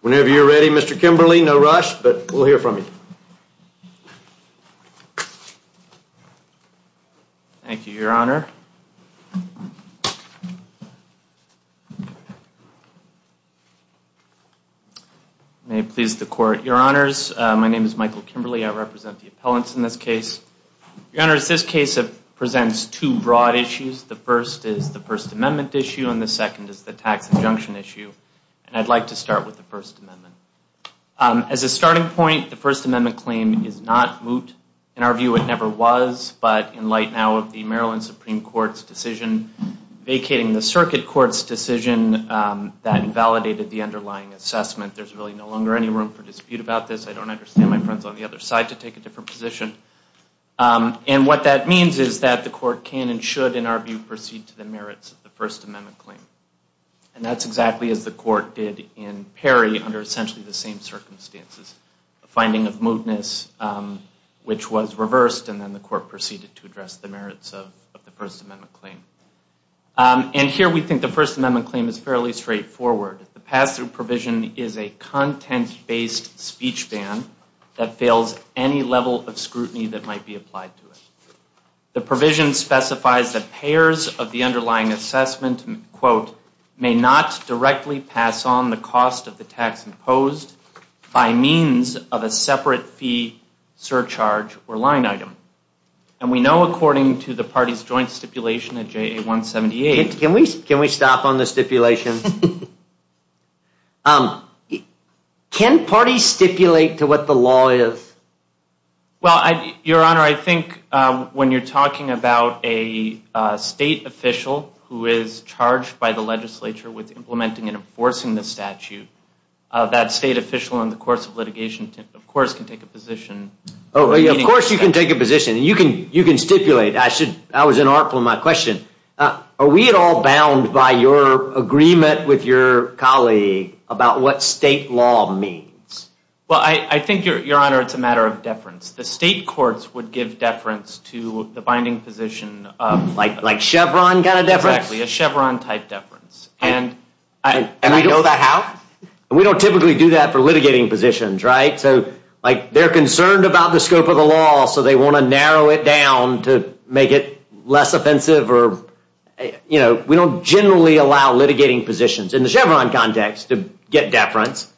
Whenever you're ready, Mr. Kimberly. No rush, but we'll hear from you. Thank you, Your Honor. May it please the Court. Your Honors, my name is Michael Kimberly. I represent the appellants in this case. Your Honors, this case presents two broad issues. The first is the First Amendment issue, and the second is the tax injunction issue. And I'd like to start with the First Amendment. As a starting point, the First Amendment claim is not moot. In our view, it never was. But in light now of the Maryland Supreme Court's decision vacating the circuit court's decision, that invalidated the underlying assessment. There's really no longer any room for dispute about this. I don't understand my friends on the other side to take a different position. And what that means is that the Court can and should, in our view, proceed to the merits of the First Amendment claim. And that's exactly as the Court did in Perry under essentially the same circumstances. A finding of mootness, which was reversed, and then the Court proceeded to address the merits of the First Amendment claim. And here we think the First Amendment claim is fairly straightforward. The pass-through provision is a content-based speech ban that fails any level of scrutiny that might be applied to it. The provision specifies that payers of the underlying assessment, quote, may not directly pass on the cost of the tax imposed by means of a separate fee, surcharge, or line item. And we know according to the party's joint stipulation at JA 178. Can we stop on the stipulation? Can parties stipulate to what the law is? Well, Your Honor, I think when you're talking about a state official who is charged by the legislature with implementing and enforcing the statute, that state official in the course of litigation, of course, can take a position. Of course you can take a position. You can stipulate. I was in awe of my question. Are we at all bound by your agreement with your colleague about what state law means? Well, I think, Your Honor, it's a matter of deference. The state courts would give deference to the binding position of... Like Chevron kind of deference? Exactly, a Chevron-type deference. And we know that how? We don't typically do that for litigating positions, right? So they're concerned about the scope of the law, so they want to narrow it down to make it less offensive. We don't generally allow litigating positions in the Chevron context to get deference.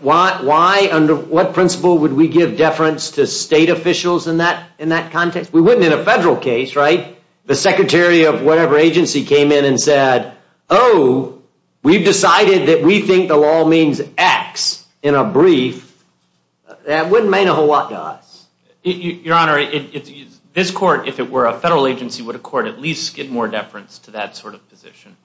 Why? Under what principle would we give deference to state officials in that context? We wouldn't in a federal case, right? The secretary of whatever agency came in and said, Oh, we've decided that we think the law means X in a brief. That wouldn't mean a whole lot to us. Your Honor, this court, if it were a federal agency, would at least get more deference to that sort of position.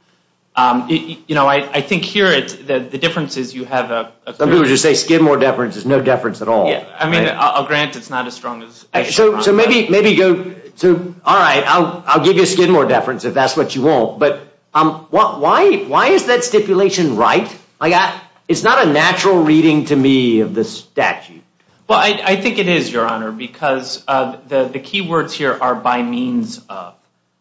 I think here the difference is you have a... Some people just say skid more deference. There's no deference at all. I'll grant it's not as strong as Chevron. All right, I'll give you a skid more deference if that's what you want. But why is that stipulation right? It's not a natural reading to me of the statute. I think it is, Your Honor, because the key words here are by means of.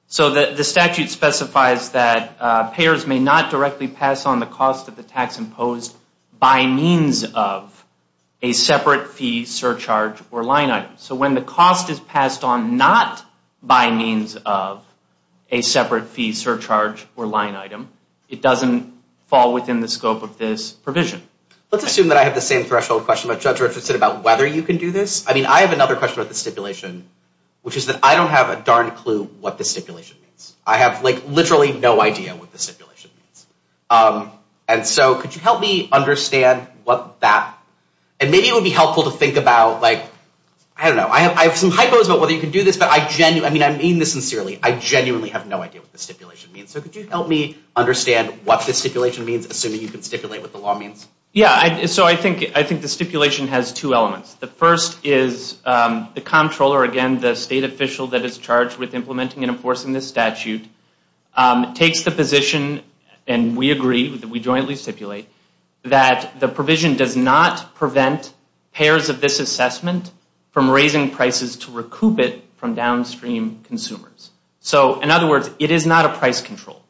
So the statute specifies that payers may not directly pass on the cost of the tax imposed by means of a separate fee surcharge or line item. So when the cost is passed on not by means of a separate fee surcharge or line item, it doesn't fall within the scope of this provision. Let's assume that I have the same threshold question that Judge Richards said about whether you can do this. I mean, I have another question about the stipulation, which is that I don't have a darn clue what the stipulation means. I have like literally no idea what the stipulation means. And so could you help me understand what that... And maybe it would be helpful to think about, like, I don't know. I have some hypos about whether you can do this, but I mean this sincerely. I genuinely have no idea what the stipulation means. So could you help me understand what the stipulation means, assuming you can stipulate what the law means? Yeah, so I think the stipulation has two elements. The first is the comptroller, again, the state official that is charged with implementing and enforcing this statute, takes the position, and we agree that we jointly stipulate, that the provision does not prevent payers of this assessment from raising prices to recoup it from downstream consumers. So in other words, it is not a price control.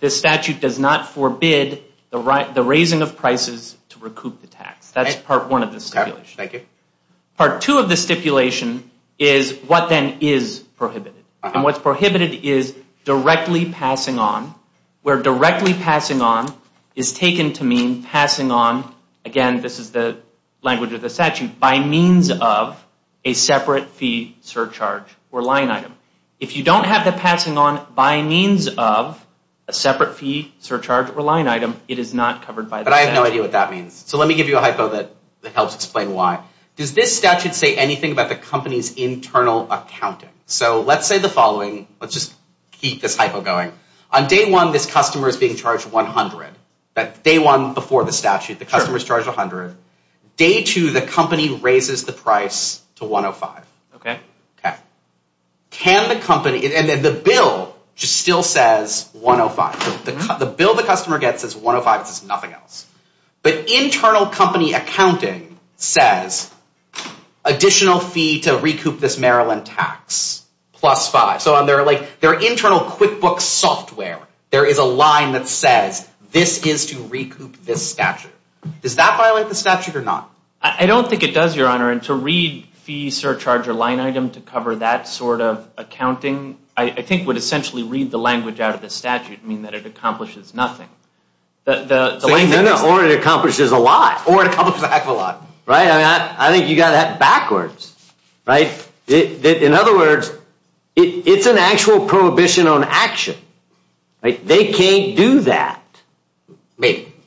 This statute does not forbid the raising of prices to recoup the tax. That's part one of the stipulation. Part two of the stipulation is what then is prohibited. And what's prohibited is directly passing on, where directly passing on is taken to mean passing on, again, this is the language of the statute, by means of a separate fee surcharge or line item. If you don't have the passing on by means of a separate fee surcharge or line item, it is not covered by the statute. I have no idea what that means. So let me give you a hypo that helps explain why. Does this statute say anything about the company's internal accounting? So let's say the following. Let's just keep this hypo going. On day one, this customer is being charged $100. That day one before the statute, the customer is charged $100. Day two, the company raises the price to $105. Okay. Okay. Can the company, and then the bill just still says $105. The bill the customer gets says $105. It says nothing else. But internal company accounting says additional fee to recoup this Maryland tax plus five. So on their internal QuickBooks software, there is a line that says, this is to recoup this statute. Does that violate the statute or not? I don't think it does, Your Honor. I think would essentially read the language out of the statute, mean that it accomplishes nothing. Or it accomplishes a lot. Or it accomplishes a heck of a lot. I think you got that backwards. In other words, it's an actual prohibition on action. They can't do that.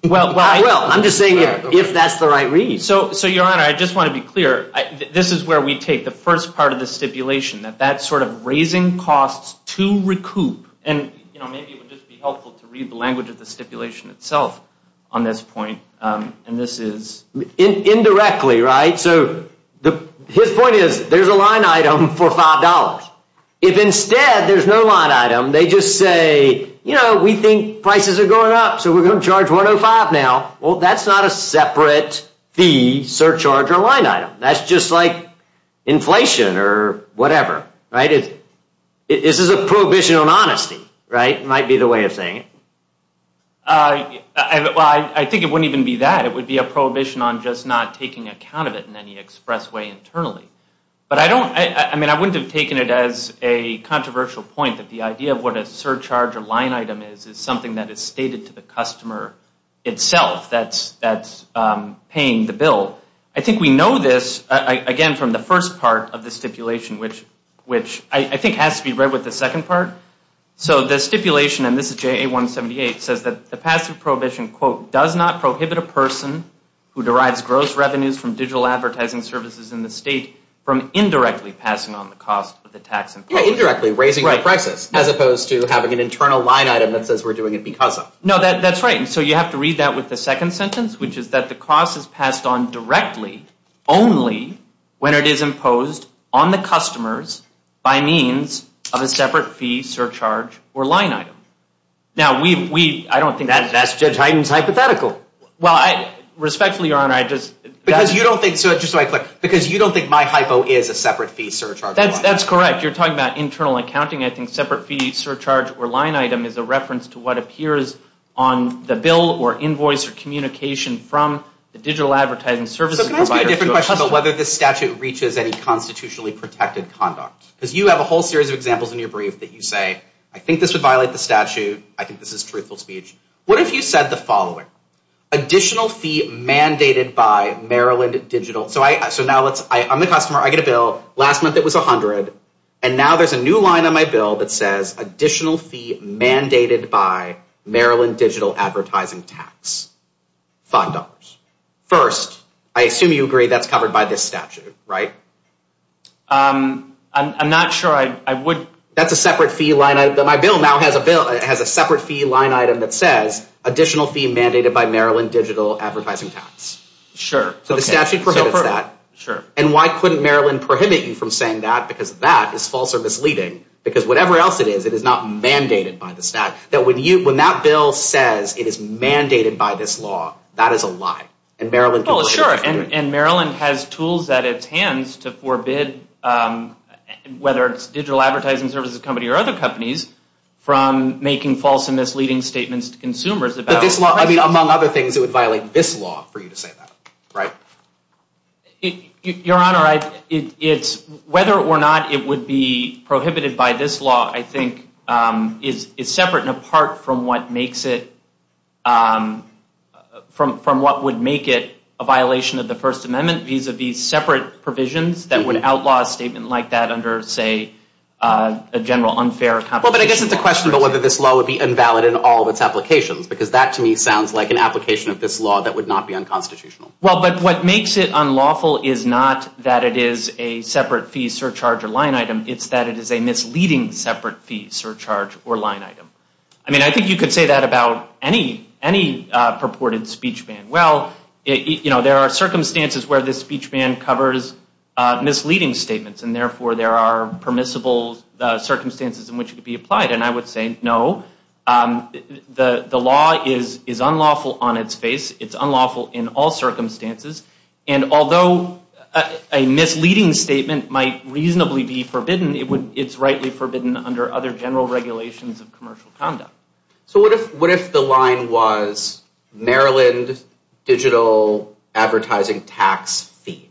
Well, I'm just saying if that's the right read. So, Your Honor, I just want to be clear. This is where we take the first part of the stipulation, that that's sort of raising costs to recoup. And maybe it would just be helpful to read the language of the stipulation itself on this point. Indirectly, right? So his point is there's a line item for $5. If instead there's no line item, they just say, you know, we think prices are going up, so we're going to charge $105 now. Well, that's not a separate fee, surcharge, or line item. That's just like inflation or whatever, right? This is a prohibition on honesty, right? Might be the way of saying it. Well, I think it wouldn't even be that. It would be a prohibition on just not taking account of it in any express way internally. But I don't – I mean, I wouldn't have taken it as a controversial point that the idea of what a surcharge or line item is is something that is stated to the customer itself that's paying the bill. I think we know this, again, from the first part of the stipulation, which I think has to be read with the second part. So the stipulation, and this is JA-178, says that the passive prohibition, quote, does not prohibit a person who derives gross revenues from digital advertising services in the state from indirectly passing on the cost of the tax imposed. Indirectly raising the prices as opposed to having an internal line item that says we're doing it because of. No, that's right. And so you have to read that with the second sentence, which is that the cost is passed on directly only when it is imposed on the customers by means of a separate fee, surcharge, or line item. Now, we – I don't think – That's Judge Hyten's hypothetical. Well, respectfully, Your Honor, I just – Because you don't think – just so I click. Because you don't think my hypo is a separate fee, surcharge, or line item. That's correct. You're talking about internal accounting. I think separate fee, surcharge, or line item is a reference to what appears on the bill or invoice or communication from the digital advertising services provider. So can I ask you a different question about whether this statute reaches any constitutionally protected conduct? Because you have a whole series of examples in your brief that you say, I think this would violate the statute. I think this is truthful speech. What if you said the following? Additional fee mandated by Maryland Digital – so now let's – I'm the customer. I get a bill. Last month it was 100. And now there's a new line on my bill that says additional fee mandated by Maryland Digital Advertising Tax, $5. First, I assume you agree that's covered by this statute, right? I'm not sure. I would – That's a separate fee line item. My bill now has a separate fee line item that says additional fee mandated by Maryland Digital Advertising Tax. Sure. So the statute prohibits that. Sure. And why couldn't Maryland prohibit you from saying that? Because that is false or misleading. Because whatever else it is, it is not mandated by the statute. That when you – when that bill says it is mandated by this law, that is a lie. And Maryland – Well, sure. And Maryland has tools at its hands to forbid, whether it's digital advertising services company or other companies, from making false and misleading statements to consumers about – But this law – I mean, among other things, it would violate this law for you to say that, right? Your Honor, it's – whether or not it would be prohibited by this law, I think is separate and apart from what makes it – from what would make it a violation of the First Amendment vis-à-vis separate provisions that would outlaw a statement like that under, say, a general unfair competition. Well, but I guess it's a question of whether this law would be invalid in all of its applications, because that, to me, sounds like an application of this law that would not be unconstitutional. Well, but what makes it unlawful is not that it is a separate fee surcharge or line item. It's that it is a misleading separate fee surcharge or line item. I mean, I think you could say that about any purported speech ban. Well, you know, there are circumstances where this speech ban covers misleading statements, and therefore there are permissible circumstances in which it could be applied. And I would say no. The law is unlawful on its face. It's unlawful in all circumstances. And although a misleading statement might reasonably be forbidden, it's rightly forbidden under other general regulations of commercial conduct. So what if the line was Maryland digital advertising tax fee?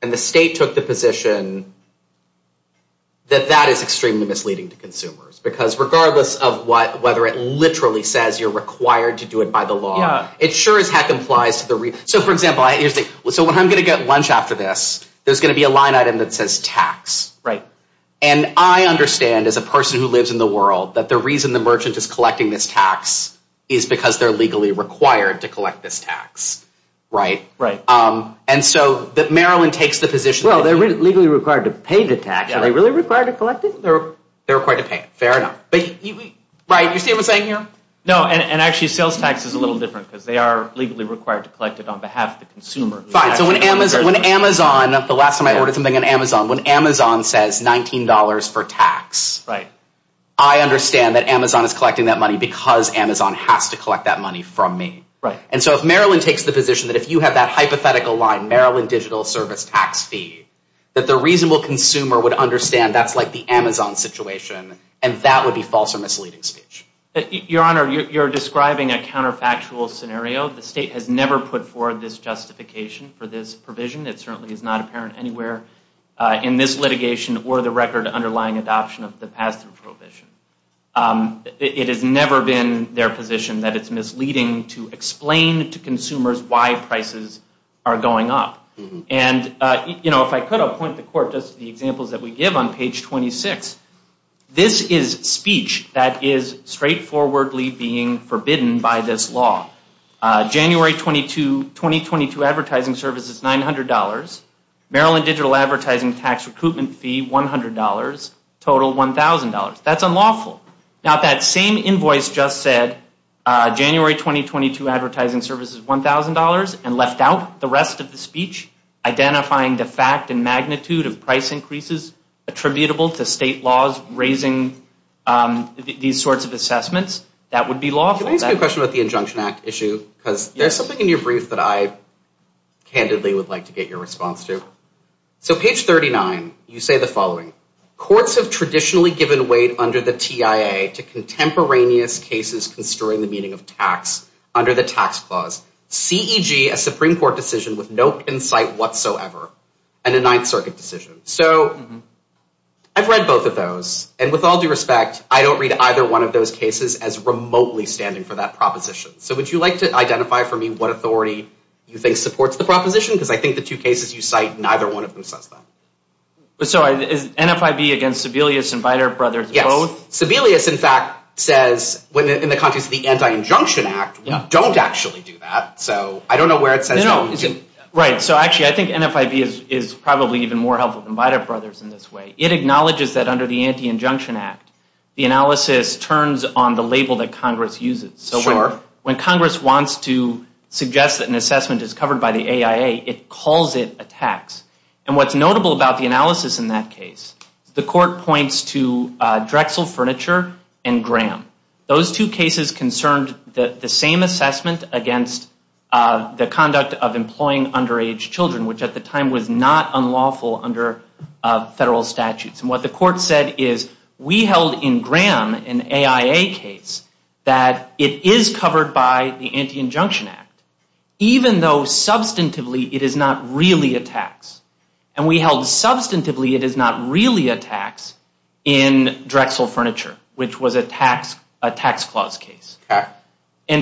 And the state took the position that that is extremely misleading to consumers, because regardless of whether it literally says you're required to do it by the law, it sure as heck implies to the—so, for example, when I'm going to get lunch after this, there's going to be a line item that says tax. And I understand, as a person who lives in the world, that the reason the merchant is collecting this tax is because they're legally required to collect this tax. Right? And so that Maryland takes the position— Well, they're legally required to pay the tax. Are they really required to collect it? They're required to pay it. Fair enough. Right? You see what I'm saying here? No, and actually sales tax is a little different, because they are legally required to collect it on behalf of the consumer. Fine. So when Amazon—the last time I ordered something on Amazon— when Amazon says $19 for tax, I understand that Amazon is collecting that money because Amazon has to collect that money from me. Right. And so if Maryland takes the position that if you have that hypothetical line, Maryland digital service tax fee, that the reasonable consumer would understand that's like the Amazon situation, and that would be false or misleading speech. Your Honor, you're describing a counterfactual scenario. The state has never put forward this justification for this provision. It certainly is not apparent anywhere in this litigation or the record underlying adoption of the pass-through prohibition. It has never been their position that it's misleading to explain to consumers why prices are going up. And, you know, if I could, I'll point the court just to the examples that we give on page 26. This is speech that is straightforwardly being forbidden by this law. January 2022 advertising service is $900. Maryland digital advertising tax recoupment fee, $100, total $1,000. That's unlawful. Now that same invoice just said January 2022 advertising service is $1,000 and left out the rest of the speech, identifying the fact and magnitude of price increases attributable to state laws raising these sorts of assessments, that would be lawful. Can I ask you a question about the Injunction Act issue? Because there's something in your brief that I candidly would like to get your response to. So page 39, you say the following. Courts have traditionally given weight under the TIA to contemporaneous cases construing the meaning of tax under the tax clause. C.E.G., a Supreme Court decision with no insight whatsoever, and a Ninth Circuit decision. So I've read both of those. And with all due respect, I don't read either one of those cases as remotely standing for that proposition. So would you like to identify for me what authority you think supports the proposition? Because I think the two cases you cite, neither one of them says that. So is NFIB against Sebelius and Beiter Brothers both? So Sebelius, in fact, says, in the context of the Anti-Injunction Act, don't actually do that. So I don't know where it says that. Right. So actually, I think NFIB is probably even more helpful than Beiter Brothers in this way. It acknowledges that under the Anti-Injunction Act, the analysis turns on the label that Congress uses. So when Congress wants to suggest that an assessment is covered by the AIA, it calls it a tax. And what's notable about the analysis in that case, the court points to Drexel Furniture and Graham. Those two cases concerned the same assessment against the conduct of employing underage children, which at the time was not unlawful under federal statutes. And what the court said is, we held in Graham an AIA case that it is covered by the Anti-Injunction Act, even though substantively it is not really a tax. And we held substantively it is not really a tax in Drexel Furniture, which was a tax clause case. Okay.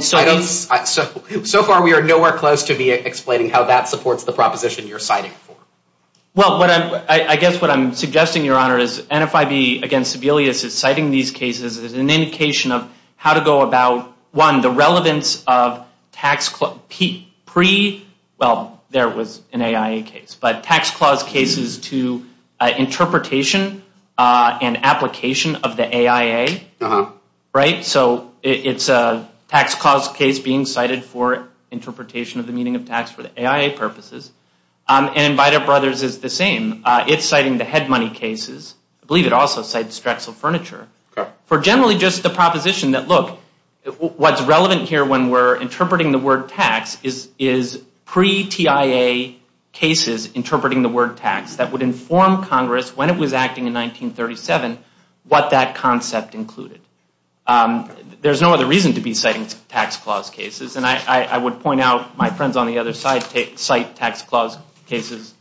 So far, we are nowhere close to explaining how that supports the proposition you're citing for. Well, I guess what I'm suggesting, Your Honor, is NFIB against Sebelius is citing these cases as an indication of how to go about, one, the relevance of tax, pre, well, there was an AIA case, but tax clause cases to interpretation and application of the AIA. Right? So it's a tax clause case being cited for interpretation of the meaning of tax for the AIA purposes. And Inviter Brothers is the same. It's citing the head money cases. I believe it also cites Drexel Furniture. Okay. For generally just the proposition that, look, what's relevant here when we're interpreting the word tax is pre-TIA cases interpreting the word tax that would inform Congress when it was acting in 1937 what that concept included. There's no other reason to be citing tax clause cases, and I would point out my friends on the other side cite tax clause cases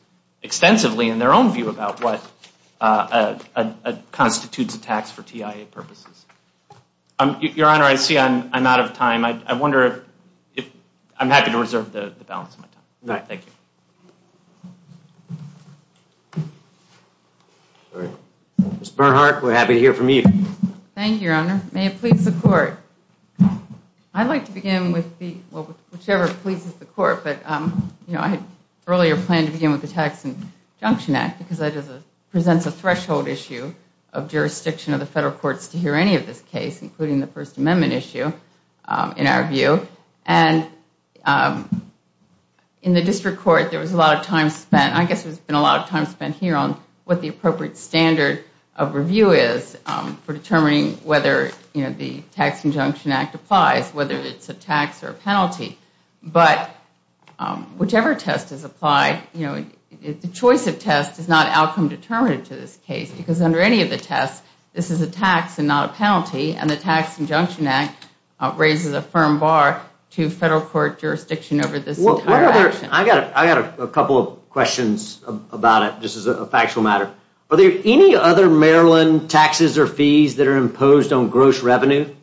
extensively in their own view about what constitutes a tax for TIA purposes. Your Honor, I see I'm out of time. I wonder if I'm happy to reserve the balance of my time. Thank you. Ms. Bernhardt, we're happy to hear from you. Thank you, Your Honor. May it please the Court. But, you know, I had earlier planned to begin with the Tax Conjunction Act because that presents a threshold issue of jurisdiction of the federal courts to hear any of this case, including the First Amendment issue, in our view. And in the district court there was a lot of time spent, I guess there's been a lot of time spent here on what the appropriate standard of review is for determining whether, you know, the Tax Conjunction Act applies, whether it's a tax or a penalty. But whichever test is applied, you know, the choice of test is not outcome determinative to this case because under any of the tests this is a tax and not a penalty, and the Tax Conjunction Act raises a firm bar to federal court jurisdiction over this entire action. I've got a couple of questions about it. This is a factual matter. Are there any other Maryland taxes or fees that are imposed on gross revenue?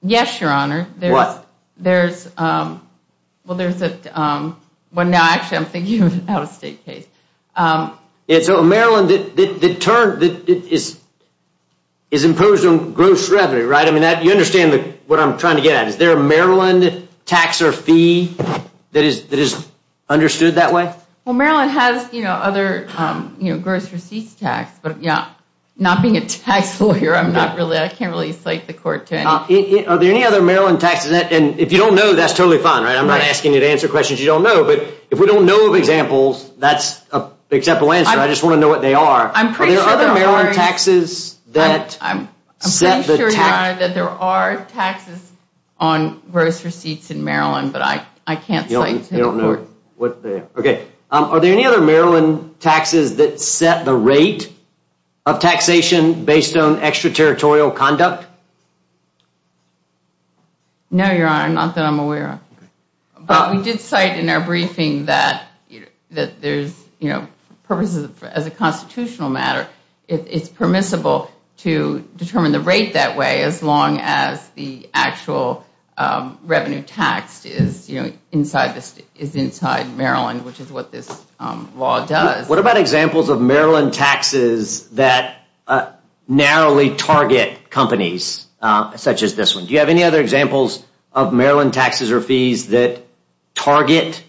Yes, Your Honor. What? There's, well, there's a, well, no, actually I'm thinking of an out-of-state case. Yeah, so Maryland, the term is imposed on gross revenue, right? I mean, you understand what I'm trying to get at. Is there a Maryland tax or fee that is understood that way? Well, Maryland has, you know, other gross receipts tax, but not being a tax lawyer, I can't really cite the court to it. Are there any other Maryland taxes, and if you don't know, that's totally fine, right? I'm not asking you to answer questions you don't know, but if we don't know of examples, that's an acceptable answer. I just want to know what they are. Are there other Maryland taxes that set the tax? I'm pretty sure, Your Honor, that there are taxes on gross receipts in Maryland, but I can't cite to the court. Okay, are there any other Maryland taxes that set the rate of taxation based on extraterritorial conduct? No, Your Honor, not that I'm aware of. But we did cite in our briefing that there's, you know, purposes, as a constitutional matter, it's permissible to determine the rate that way as long as the actual revenue tax is inside Maryland, which is what this law does. What about examples of Maryland taxes that narrowly target companies, such as this one? Do you have any other examples of Maryland taxes or fees that target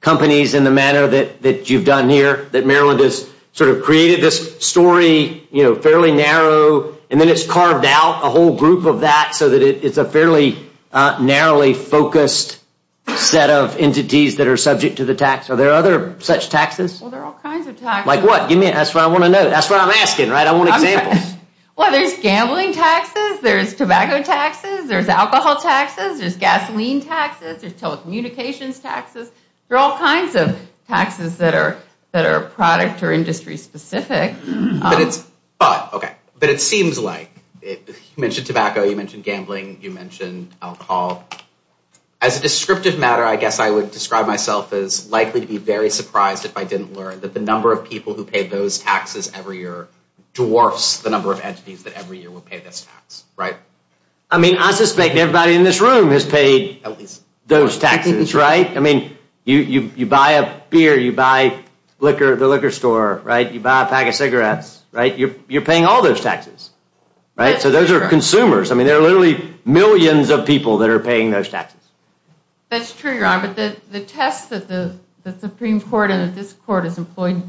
companies in the manner that you've done here, that Maryland has sort of created this story, you know, fairly narrow, and then it's carved out a whole group of that, so that it's a fairly narrowly focused set of entities that are subject to the tax? Are there other such taxes? Well, there are all kinds of taxes. Like what? That's what I want to know. That's what I'm asking, right? I want examples. Well, there's gambling taxes, there's tobacco taxes, there's alcohol taxes, there's gasoline taxes, there's telecommunications taxes. There are all kinds of taxes that are product or industry specific. But it seems like you mentioned tobacco, you mentioned gambling, you mentioned alcohol. As a descriptive matter, I guess I would describe myself as likely to be very surprised if I didn't learn that the number of people who pay those taxes every year dwarfs the number of entities that every year will pay this tax, right? I mean, I suspect everybody in this room has paid those taxes, right? I mean, you buy a beer, you buy the liquor store, right? You buy a pack of cigarettes, right? You're paying all those taxes, right? So those are consumers. I mean, there are literally millions of people that are paying those taxes. That's true, Your Honor. But the tests that the Supreme Court and that this Court has employed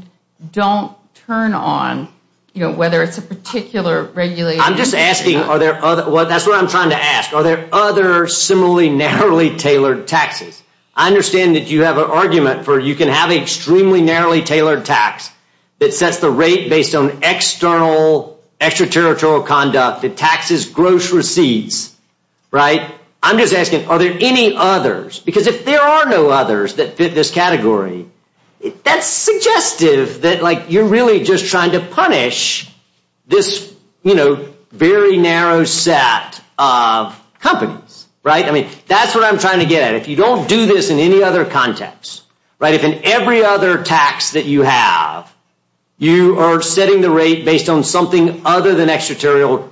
don't turn on, you know, whether it's a particular regulation. I'm just asking, are there other – that's what I'm trying to ask. Are there other similarly narrowly tailored taxes? I understand that you have an argument for you can have an extremely narrowly tailored tax that sets the rate based on external, extraterritorial conduct that taxes gross receipts, right? I'm just asking, are there any others? Because if there are no others that fit this category, that's suggestive that, like, you're really just trying to punish this, you know, very narrow set of companies, right? I mean, that's what I'm trying to get at. If you don't do this in any other context, right, if in every other tax that you have you are setting the rate based on something other than extraterritorial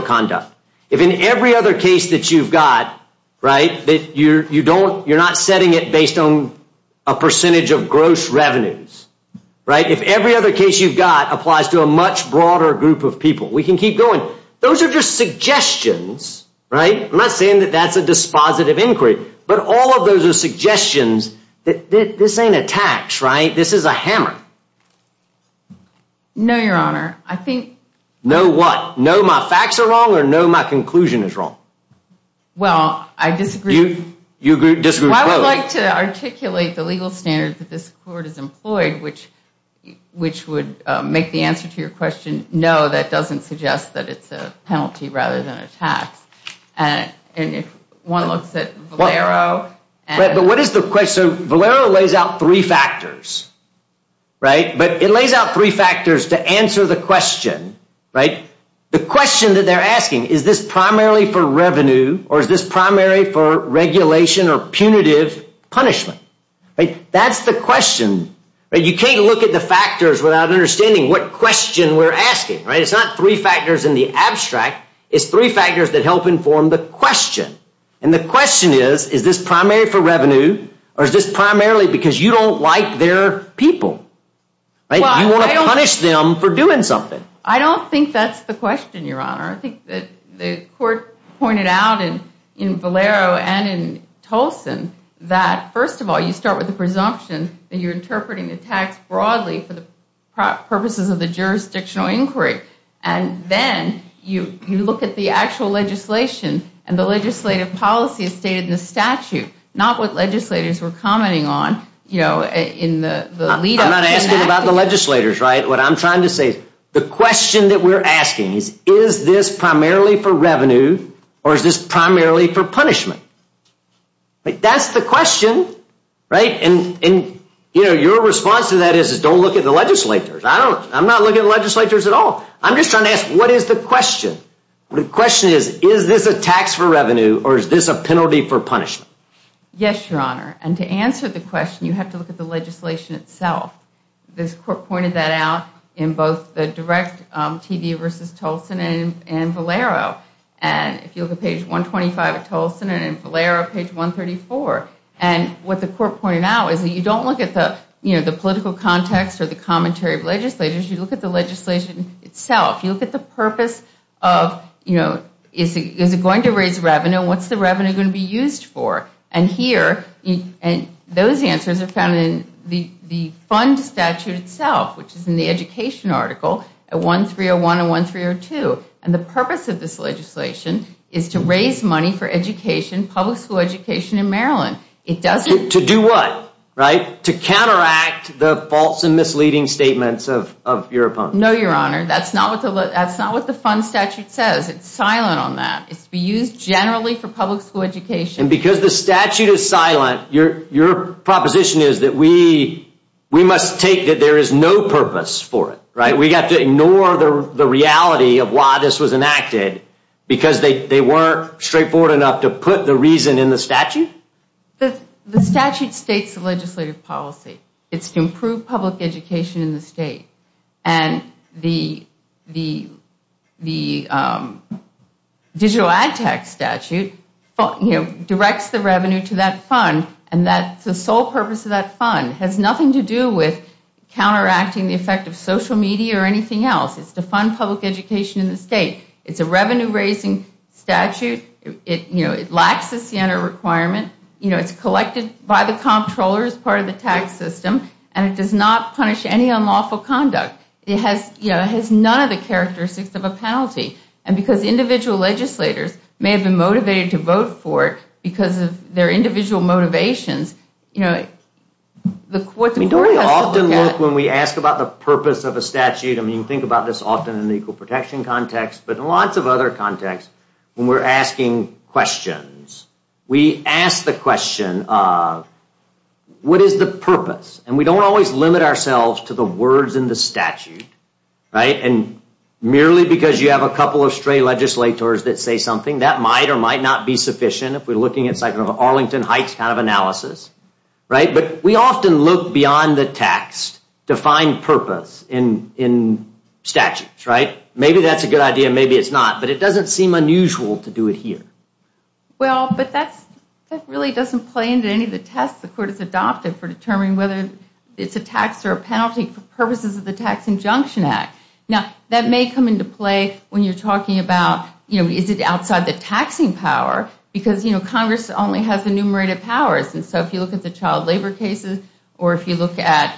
conduct, if in every other case that you've got, right, that you're not setting it based on a percentage of gross revenues, right, if every other case you've got applies to a much broader group of people, we can keep going. Those are just suggestions, right? I'm not saying that that's a dispositive inquiry. But all of those are suggestions that this ain't a tax, right? This is a hammer. No, Your Honor. I think— No, what? No, my facts are wrong or no, my conclusion is wrong? Well, I disagree— You agree— Well, I would like to articulate the legal standards that this Court has employed, which would make the answer to your question, no, that doesn't suggest that it's a penalty rather than a tax. And if one looks at Valero and— But what is the question? Valero lays out three factors, right? But it lays out three factors to answer the question, right? The question that they're asking, is this primarily for revenue or is this primarily for regulation or punitive punishment? That's the question. You can't look at the factors without understanding what question we're asking, right? It's not three factors in the abstract. It's three factors that help inform the question. And the question is, is this primary for revenue or is this primarily because you don't like their people, right? You want to punish them for doing something. I don't think that's the question, Your Honor. I think that the Court pointed out in Valero and in Tolson that, first of all, you start with the presumption that you're interpreting the tax broadly for the purposes of the jurisdictional inquiry. And then you look at the actual legislation and the legislative policies stated in the statute, not what legislators were commenting on, you know, in the lead-up. I'm not asking about the legislators, right? What I'm trying to say is the question that we're asking is, is this primarily for revenue or is this primarily for punishment? That's the question, right? And, you know, your response to that is don't look at the legislators. I'm not looking at the legislators at all. I'm just trying to ask, what is the question? The question is, is this a tax for revenue or is this a penalty for punishment? Yes, Your Honor. And to answer the question, you have to look at the legislation itself. This Court pointed that out in both the direct TV v. Tolson and in Valero. And if you look at page 125 of Tolson and in Valero, page 134. And what the Court pointed out is that you don't look at the, you know, the political context or the commentary of legislators. You look at the legislation itself. You look at the purpose of, you know, is it going to raise revenue and what's the revenue going to be used for? And here, and those answers are found in the fund statute itself, which is in the education article at 1301 and 1302. And the purpose of this legislation is to raise money for education, public school education in Maryland. To do what? To counteract the false and misleading statements of your opponents. No, Your Honor. That's not what the fund statute says. It's silent on that. It's to be used generally for public school education. And because the statute is silent, your proposition is that we must take that there is no purpose for it. Right? We got to ignore the reality of why this was enacted because they weren't straightforward enough to put the reason in the statute? The statute states the legislative policy. It's to improve public education in the state. And the digital ad tax statute, you know, directs the revenue to that fund. And that's the sole purpose of that fund. It has nothing to do with counteracting the effect of social media or anything else. It's to fund public education in the state. It's a revenue-raising statute. It, you know, it lacks the Siena requirement. You know, it's collected by the comptroller as part of the tax system. And it does not punish any unlawful conduct. And because individual legislators may have been motivated to vote for it because of their individual motivations, you know, the court has to look at it. I mean, don't we often look, when we ask about the purpose of a statute, I mean, think about this often in the equal protection context, but in lots of other contexts, when we're asking questions, we ask the question of, what is the purpose? And we don't always limit ourselves to the words in the statute. Right? And merely because you have a couple of stray legislators that say something, that might or might not be sufficient if we're looking at something like an Arlington Heights kind of analysis. Right? But we often look beyond the text to find purpose in statutes. Right? Maybe that's a good idea. Maybe it's not. But it doesn't seem unusual to do it here. Well, but that really doesn't play into any of the tests the court has adopted for determining whether it's a tax or a penalty for purposes of the Tax Injunction Act. Now, that may come into play when you're talking about, you know, is it outside the taxing power? Because, you know, Congress only has enumerated powers. And so if you look at the child labor cases or if you look at,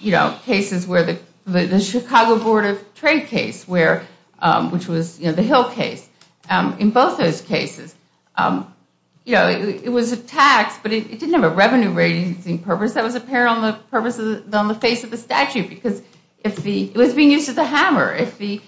you know, cases where the Chicago Board of Trade case, which was, you know, the Hill case. In both those cases, you know, it was a tax, but it didn't have a revenue raising purpose that was apparent on the face of the statute. Because it was being used as a hammer. If the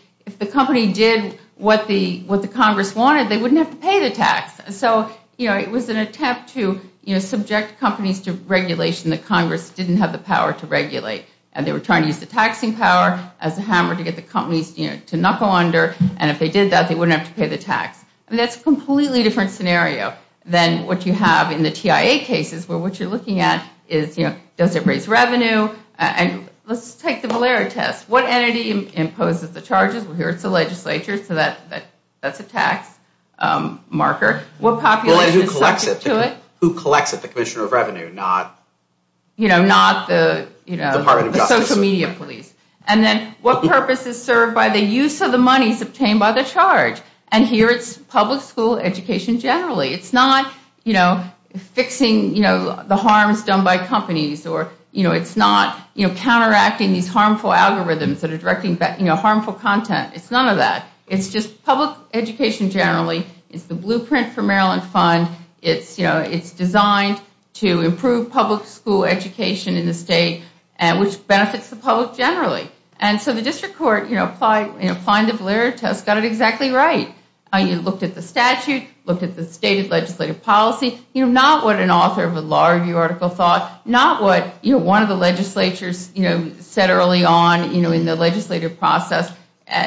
company did what the Congress wanted, they wouldn't have to pay the tax. So, you know, it was an attempt to, you know, subject companies to regulation that Congress didn't have the power to regulate. And they were trying to use the taxing power as a hammer to get the companies, you know, to knuckle under. And if they did that, they wouldn't have to pay the tax. And that's a completely different scenario than what you have in the TIA cases where what you're looking at is, you know, does it raise revenue? And let's take the malaria test. What entity imposes the charges? Well, here it's the legislature. So that's a tax marker. What population is subject to it? Who collects it? The Commissioner of Revenue, not, you know, not the, you know, the Social Media Police. And then what purpose is served by the use of the monies obtained by the charge? And here it's public school education generally. It's not, you know, fixing, you know, the harms done by companies or, you know, it's not, you know, counteracting these harmful algorithms that are directing, you know, harmful content. It's none of that. It's just public education generally is the blueprint for Maryland Fund. It's, you know, it's designed to improve public school education in the state, which benefits the public generally. And so the district court, you know, applying the malaria test got it exactly right. You looked at the statute, looked at the stated legislative policy, you know, not what an author of a law review article thought, not what, you know, one of the legislatures, you know, said early on, you know, in the legislative process.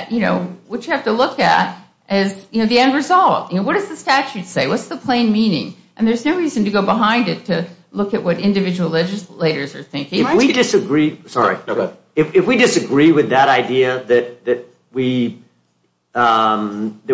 You know, what you have to look at is, you know, the end result. You know, what does the statute say? What's the plain meaning? And there's no reason to go behind it to look at what individual legislators are thinking. If we disagree with that idea that we cannot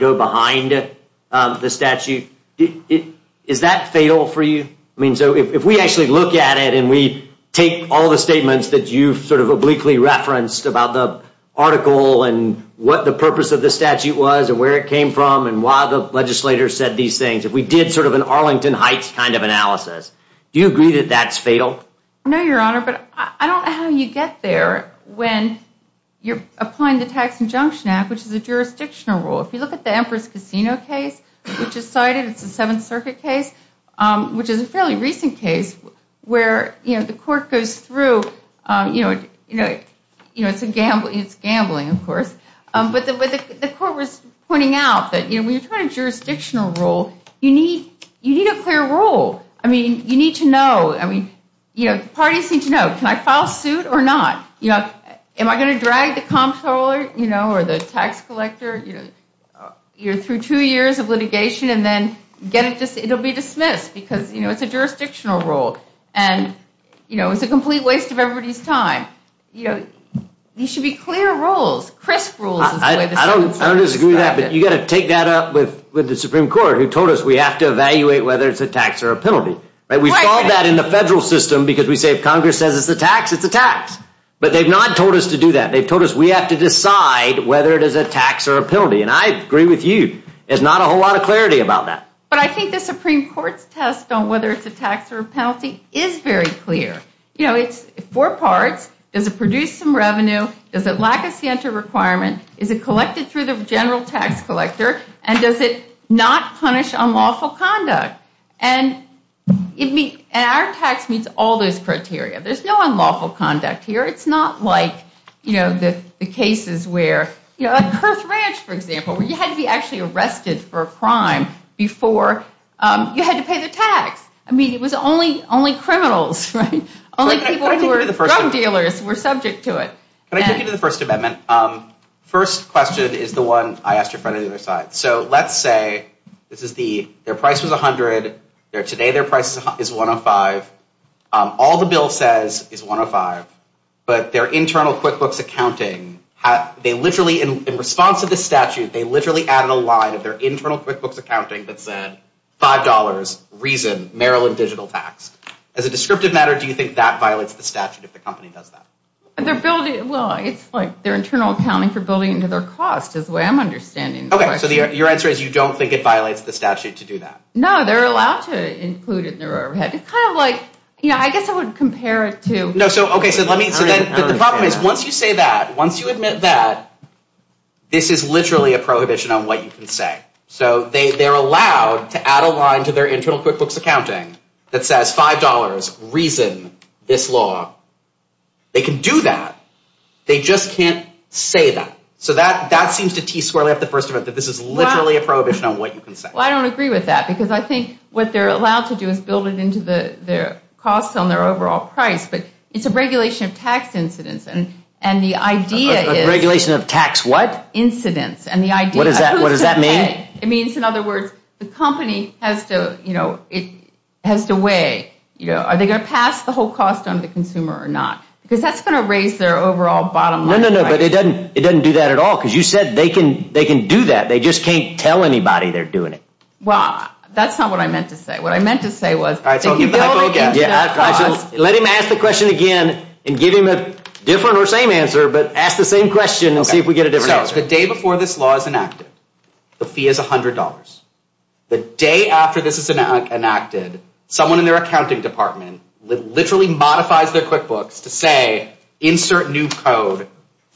go behind the statute, is that fatal for you? I mean, so if we actually look at it and we take all the statements that you've sort of obliquely referenced about the article and what the purpose of the statute was and where it came from and why the legislator said these things, if we did sort of an Arlington Heights kind of analysis, do you agree that that's fatal? No, Your Honor, but I don't know how you get there when you're applying the Tax Injunction Act, which is a jurisdictional rule. If you look at the Empress Casino case, which is cited, it's a Seventh Circuit case, which is a fairly recent case where, you know, the court goes through, you know, it's gambling, of course. But the court was pointing out that, you know, when you're trying to jurisdictional rule, you need a clear rule. I mean, you need to know. I mean, you know, parties need to know. Can I file suit or not? You know, am I going to drag the comptroller, you know, or the tax collector, you know, through two years of litigation and then get it, it'll be dismissed because, you know, it's a jurisdictional rule and, you know, it's a complete waste of everybody's time. You know, these should be clear rules. I don't disagree with that, but you've got to take that up with the Supreme Court, who told us we have to evaluate whether it's a tax or a penalty. We've called that in the federal system because we say if Congress says it's a tax, it's a tax. But they've not told us to do that. They've told us we have to decide whether it is a tax or a penalty. And I agree with you. There's not a whole lot of clarity about that. But I think the Supreme Court's test on whether it's a tax or a penalty is very clear. You know, it's four parts. Does it produce some revenue? Does it lack a scienter requirement? Is it collected through the general tax collector? And does it not punish unlawful conduct? And our tax meets all those criteria. There's no unlawful conduct here. It's not like, you know, the cases where, you know, at Perth Ranch, for example, where you had to be actually arrested for a crime before you had to pay the tax. I mean, it was only criminals, right? Only people who were drug dealers were subject to it. Can I take you to the First Amendment? First question is the one I asked your friend on the other side. So let's say this is the, their price was $100. Today their price is $105. All the bill says is $105. But their internal QuickBooks accounting, they literally, in response to the statute, they literally added a line of their internal QuickBooks accounting that said $5, reason, Maryland digital tax. As a descriptive matter, do you think that violates the statute if the company does that? They're building, well, it's like their internal accounting for building into their cost is the way I'm understanding the question. Okay, so your answer is you don't think it violates the statute to do that? No, they're allowed to include it in their overhead. It's kind of like, you know, I guess I would compare it to. No, so, okay, so let me, so then the problem is once you say that, once you admit that, this is literally a prohibition on what you can say. So they're allowed to add a line to their internal QuickBooks accounting that says $5, reason, this law. They can do that. They just can't say that. So that seems to tease squarely off the first of it, that this is literally a prohibition on what you can say. Well, I don't agree with that because I think what they're allowed to do is build it into their costs on their overall price. But it's a regulation of tax incidence. And the idea is. A regulation of tax what? Incidence. And the idea. What does that mean? It means, in other words, the company has to, you know, it has to weigh, you know, are they going to pass the whole cost on to the consumer or not? Because that's going to raise their overall bottom line. No, no, no, but it doesn't do that at all. Because you said they can do that. They just can't tell anybody they're doing it. Well, that's not what I meant to say. What I meant to say was. All right, so I'll give you my focus. Let him ask the question again and give him a different or same answer. But ask the same question and see if we get a different answer. The day before this law is enacted, the fee is $100. The day after this is enacted, someone in their accounting department literally modifies their QuickBooks to say, insert new code,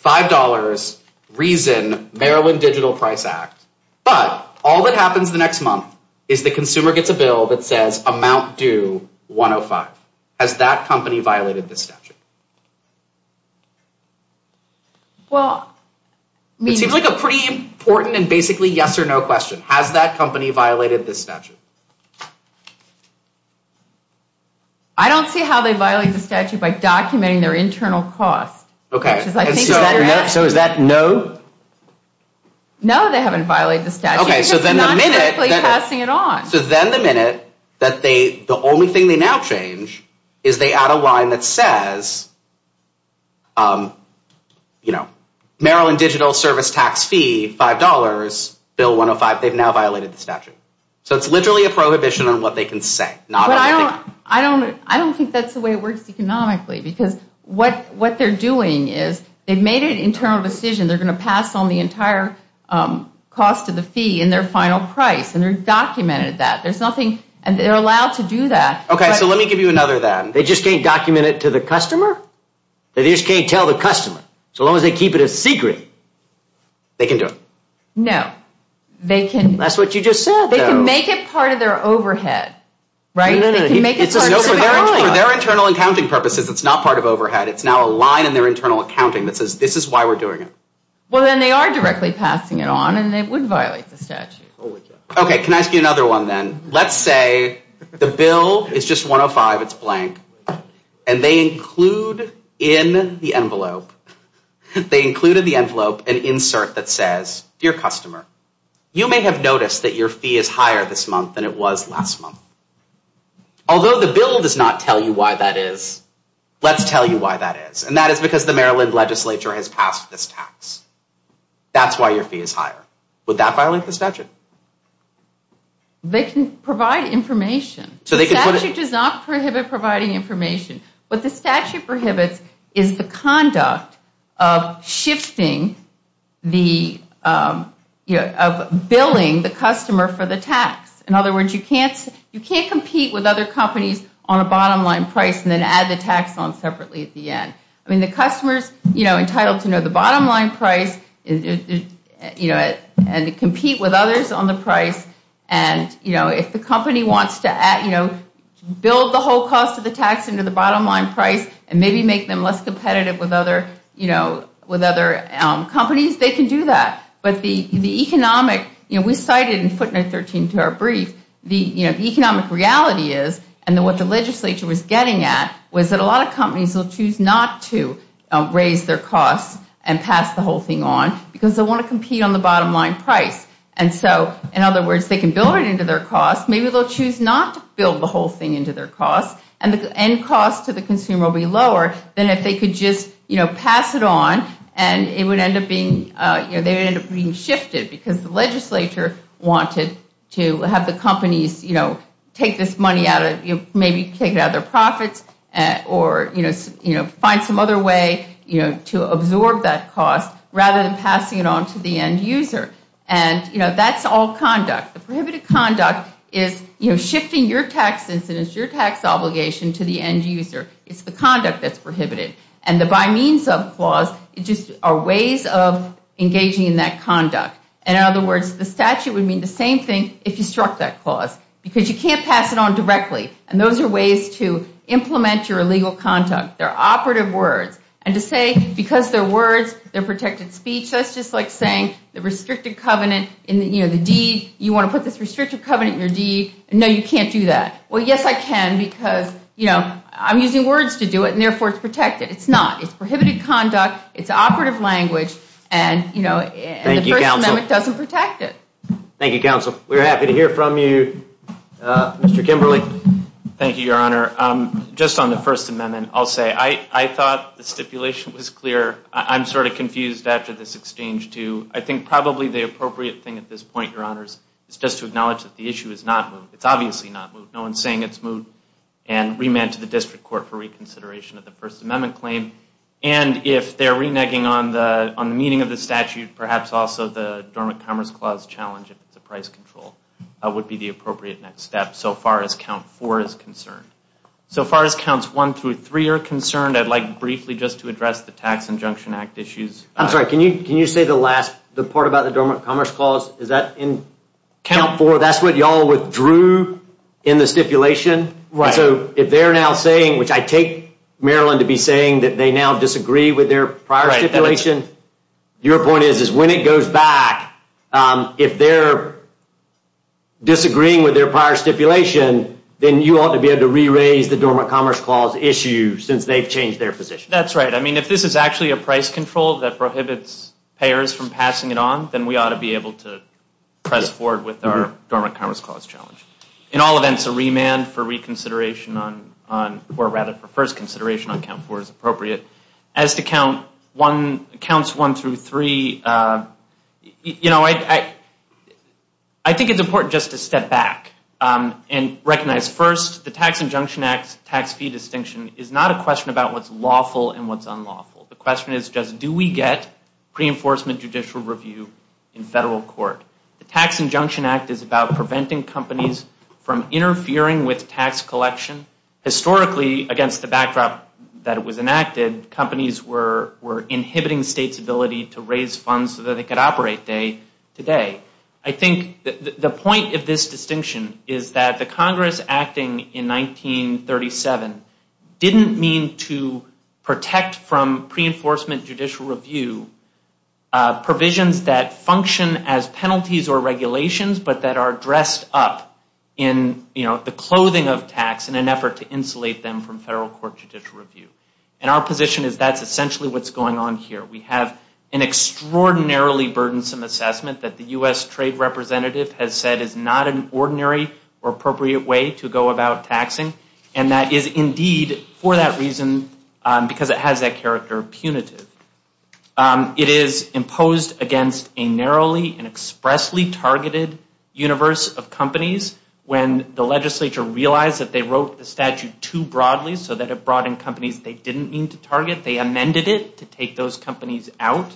$5, reason, Maryland Digital Price Act. But all that happens the next month is the consumer gets a bill that says amount due $105. Has that company violated this statute? Well. It seems like a pretty important and basically yes or no question. Has that company violated this statute? I don't see how they violate the statute by documenting their internal cost. Okay. So is that no? No, they haven't violated the statute. Okay, so then the minute. Because they're not directly passing it on. So then the minute that they, the only thing they now change is they add a $5, Maryland Digital Service Tax Fee, $5, Bill 105. They've now violated the statute. So it's literally a prohibition on what they can say. I don't think that's the way it works economically because what they're doing is they've made an internal decision. They're going to pass on the entire cost of the fee and their final price. And they've documented that. There's nothing. And they're allowed to do that. Okay, so let me give you another then. They just can't document it to the customer? They just can't tell the customer? So long as they keep it a secret, they can do it. No, they can. That's what you just said, though. They can make it part of their overhead, right? They can make it part of their overhead. For their internal accounting purposes, it's not part of overhead. It's now a line in their internal accounting that says, this is why we're doing it. Well, then they are directly passing it on, and it would violate the statute. Okay, can I ask you another one then? Let's say the bill is just 105. It's blank. And they include in the envelope an insert that says, Dear customer, you may have noticed that your fee is higher this month than it was last month. Although the bill does not tell you why that is, let's tell you why that is. And that is because the Maryland legislature has passed this tax. That's why your fee is higher. Would that violate the statute? They can provide information. The statute does not prohibit providing information. What the statute prohibits is the conduct of shifting the, of billing the customer for the tax. In other words, you can't compete with other companies on a bottom line price and then add the tax on separately at the end. I mean, the customer is entitled to know the bottom line price and to compete with others on the price. And, you know, if the company wants to, you know, build the whole cost of the tax into the bottom line price and maybe make them less competitive with other, you know, with other companies, they can do that. But the economic, you know, we cited in footnote 13 to our brief, the economic reality is and what the legislature was getting at was that a lot of companies will choose not to raise their costs and pass the whole thing on because they want to compete on the bottom line price. And so, in other words, they can build it into their cost. Maybe they'll choose not to build the whole thing into their cost and the end cost to the consumer will be lower than if they could just, you know, pass it on and it would end up being, you know, they would end up being shifted because the legislature wanted to have the companies, you know, take this money out of, you know, maybe take it out of their profits or, you know, find some other way, you know, to absorb that cost rather than passing it on to the end user. And, you know, that's all conduct. The prohibited conduct is, you know, shifting your tax incidence, your tax obligation to the end user. It's the conduct that's prohibited. And the by means of clause just are ways of engaging in that conduct. And in other words, the statute would mean the same thing if you struck that clause because you can't pass it on directly. And those are ways to implement your illegal conduct. They're operative words. And to say because they're words, they're protected speech, that's just like saying the restricted covenant in, you know, the deed, you want to put this restricted covenant in your deed. No, you can't do that. Well, yes, I can because, you know, I'm using words to do it and therefore it's protected. It's not. It's prohibited conduct. It's operative language. And, you know, the First Amendment doesn't protect it. Thank you, counsel. We're happy to hear from you, Mr. Kimberly. Thank you, Your Honor. Just on the First Amendment, I'll say I thought the stipulation was clear. I'm sort of confused after this exchange, too. I think probably the appropriate thing at this point, Your Honors, is just to acknowledge that the issue is not moot. It's obviously not moot. No one's saying it's moot and remand to the district court for reconsideration of the First Amendment claim. And if they're reneging on the meaning of the statute, perhaps also the Dormant Commerce Clause challenge, if it's a price control, would be the appropriate next step so far as Count 4 is concerned. So far as Counts 1 through 3 are concerned, I'd like briefly just to address the Tax Injunction Act issues. I'm sorry. Can you say the last part about the Dormant Commerce Clause? Is that in Count 4, that's what y'all withdrew in the stipulation? Right. So if they're now saying, which I take Maryland to be saying, that they now disagree with their prior stipulation, your point is, is when it goes back, if they're disagreeing with their prior stipulation, then you ought to be able to re-raise the Dormant Commerce Clause issue since they've changed their position. That's right. I mean, if this is actually a price control that prohibits payers from passing it on, then we ought to be able to press forward with our Dormant Commerce Clause challenge. In all events, a remand for reconsideration on, or rather for first consideration on Count 4 is appropriate. As to Counts 1 through 3, you know, I think it's important just to step back and recognize, first, the Tax Injunction Act's tax fee distinction is not a question about what's lawful and what's unlawful. The question is just, do we get pre-enforcement judicial review in federal court? The Tax Injunction Act is about preventing companies from interfering with tax collection. Historically, against the backdrop that it was enacted, companies were inhibiting states' ability to raise funds so that they could operate today. I think the point of this distinction is that the Congress acting in 1937 didn't mean to protect from pre-enforcement judicial review provisions that function as penalties or regulations, but that are dressed up in, you know, the clothing of tax in an effort to insulate them from federal court judicial review. And our position is that's essentially what's going on here. We have an extraordinarily burdensome assessment that the U.S. Trade Representative has said is not an ordinary or appropriate way to go about taxing, and that is indeed, for that reason, because it has that character, punitive. It is imposed against a narrowly and expressly targeted universe of companies when the legislature realized that they wrote the statute too broadly so that it brought in companies they didn't mean to target. They amended it to take those companies out.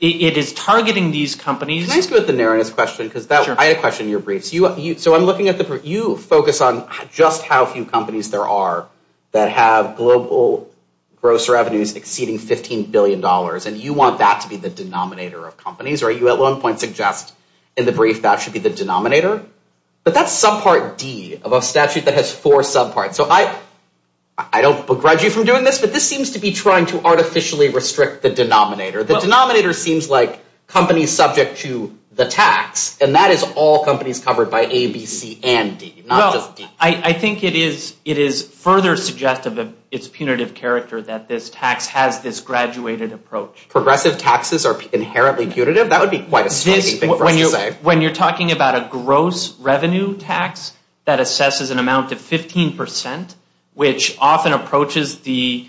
It is targeting these companies... Can I ask you about the narrowness question? Sure. I had a question in your briefs. So I'm looking at the... You focus on just how few companies there are that have global gross revenues exceeding $15 billion, and you want that to be the denominator of companies, or you at one point suggest in the brief that should be the denominator. But that's subpart D of a statute that has four subparts. So I don't begrudge you from doing this, but this seems to be trying to artificially restrict the denominator. The denominator seems like companies subject to the tax, and that is all companies covered by A, B, C, and D, not just D. I think it is further suggestive of its punitive character that this tax has this graduated approach. Progressive taxes are inherently punitive? That would be quite a striking thing for us to say. When you're talking about a gross revenue tax that assesses an amount of 15%, which often approaches the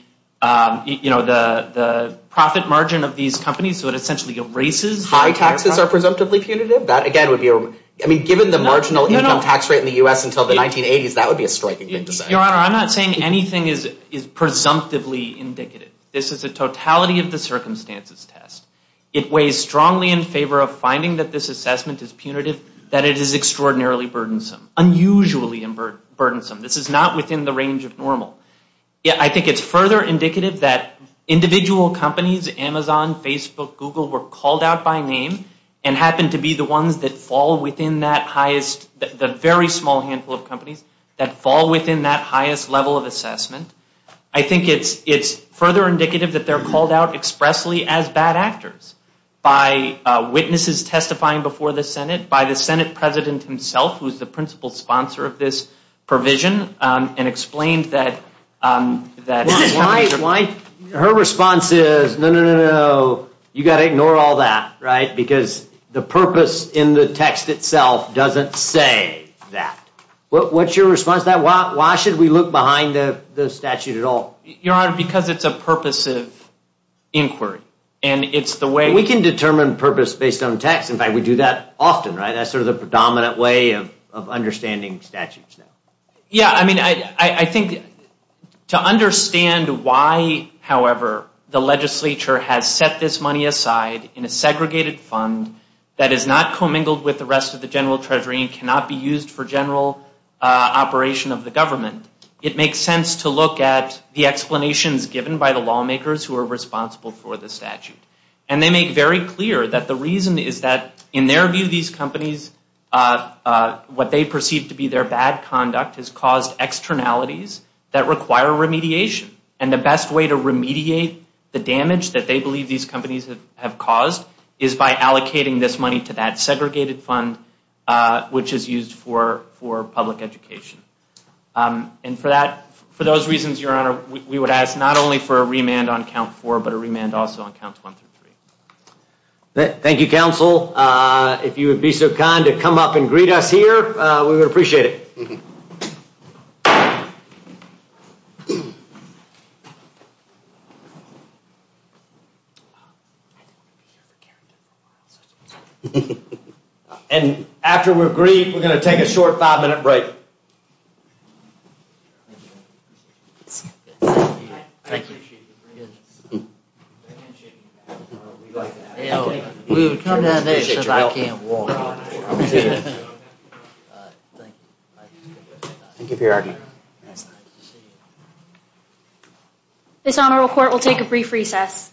profit margin of these companies, so it essentially erases... High taxes are presumptively punitive? That again would be... I mean, given the marginal income tax rate in the U.S. until the 1980s, that would be a striking thing to say. Your Honor, I'm not saying anything is presumptively indicative. This is a totality of the circumstances test. It weighs strongly in favor of finding that this assessment is punitive, that it is extraordinarily burdensome, unusually burdensome. This is not within the range of normal. I think it's further indicative that individual companies, Amazon, Facebook, Google were called out by name and happen to be the ones that fall within that highest, the very small handful of companies that fall within that highest level of assessment. I think it's further indicative that they're called out expressly as bad actors by witnesses testifying before the Senate, by the Senate president himself, who is the principal sponsor of this provision, and explained that... Her response is, no, no, no, no. You've got to ignore all that, right? Because the purpose in the text itself doesn't say that. What's your response to that? Why should we look behind the statute at all? Your Honor, because it's a purposive inquiry, and it's the way... We can determine purpose based on text. In fact, we do that often, right? That's sort of the predominant way of understanding statutes now. Yeah, I mean, I think to understand why, however, the legislature has set this money aside in a segregated fund that is not commingled with the rest of the general treasury and cannot be used for general operation of the government, it makes sense to look at the explanations given by the lawmakers who are responsible for the statute. And they make very clear that the reason is that, in their view, these companies, what they perceive to be their bad conduct has caused externalities that require remediation. And the best way to remediate the damage that they believe these companies have caused is by allocating this money to that segregated fund, which is used for public education. And for those reasons, Your Honor, we would ask not only for a remand on Count 4, but a remand also on Counts 1 through 3. Thank you, counsel. If you would be so kind to come up and greet us here, we would appreciate it. And after we're agreed, we're going to take a short five-minute break. Thank you. Thank you. We would come down next if I can't walk. Thank you for your argument. This Honorable Court will take a brief recess.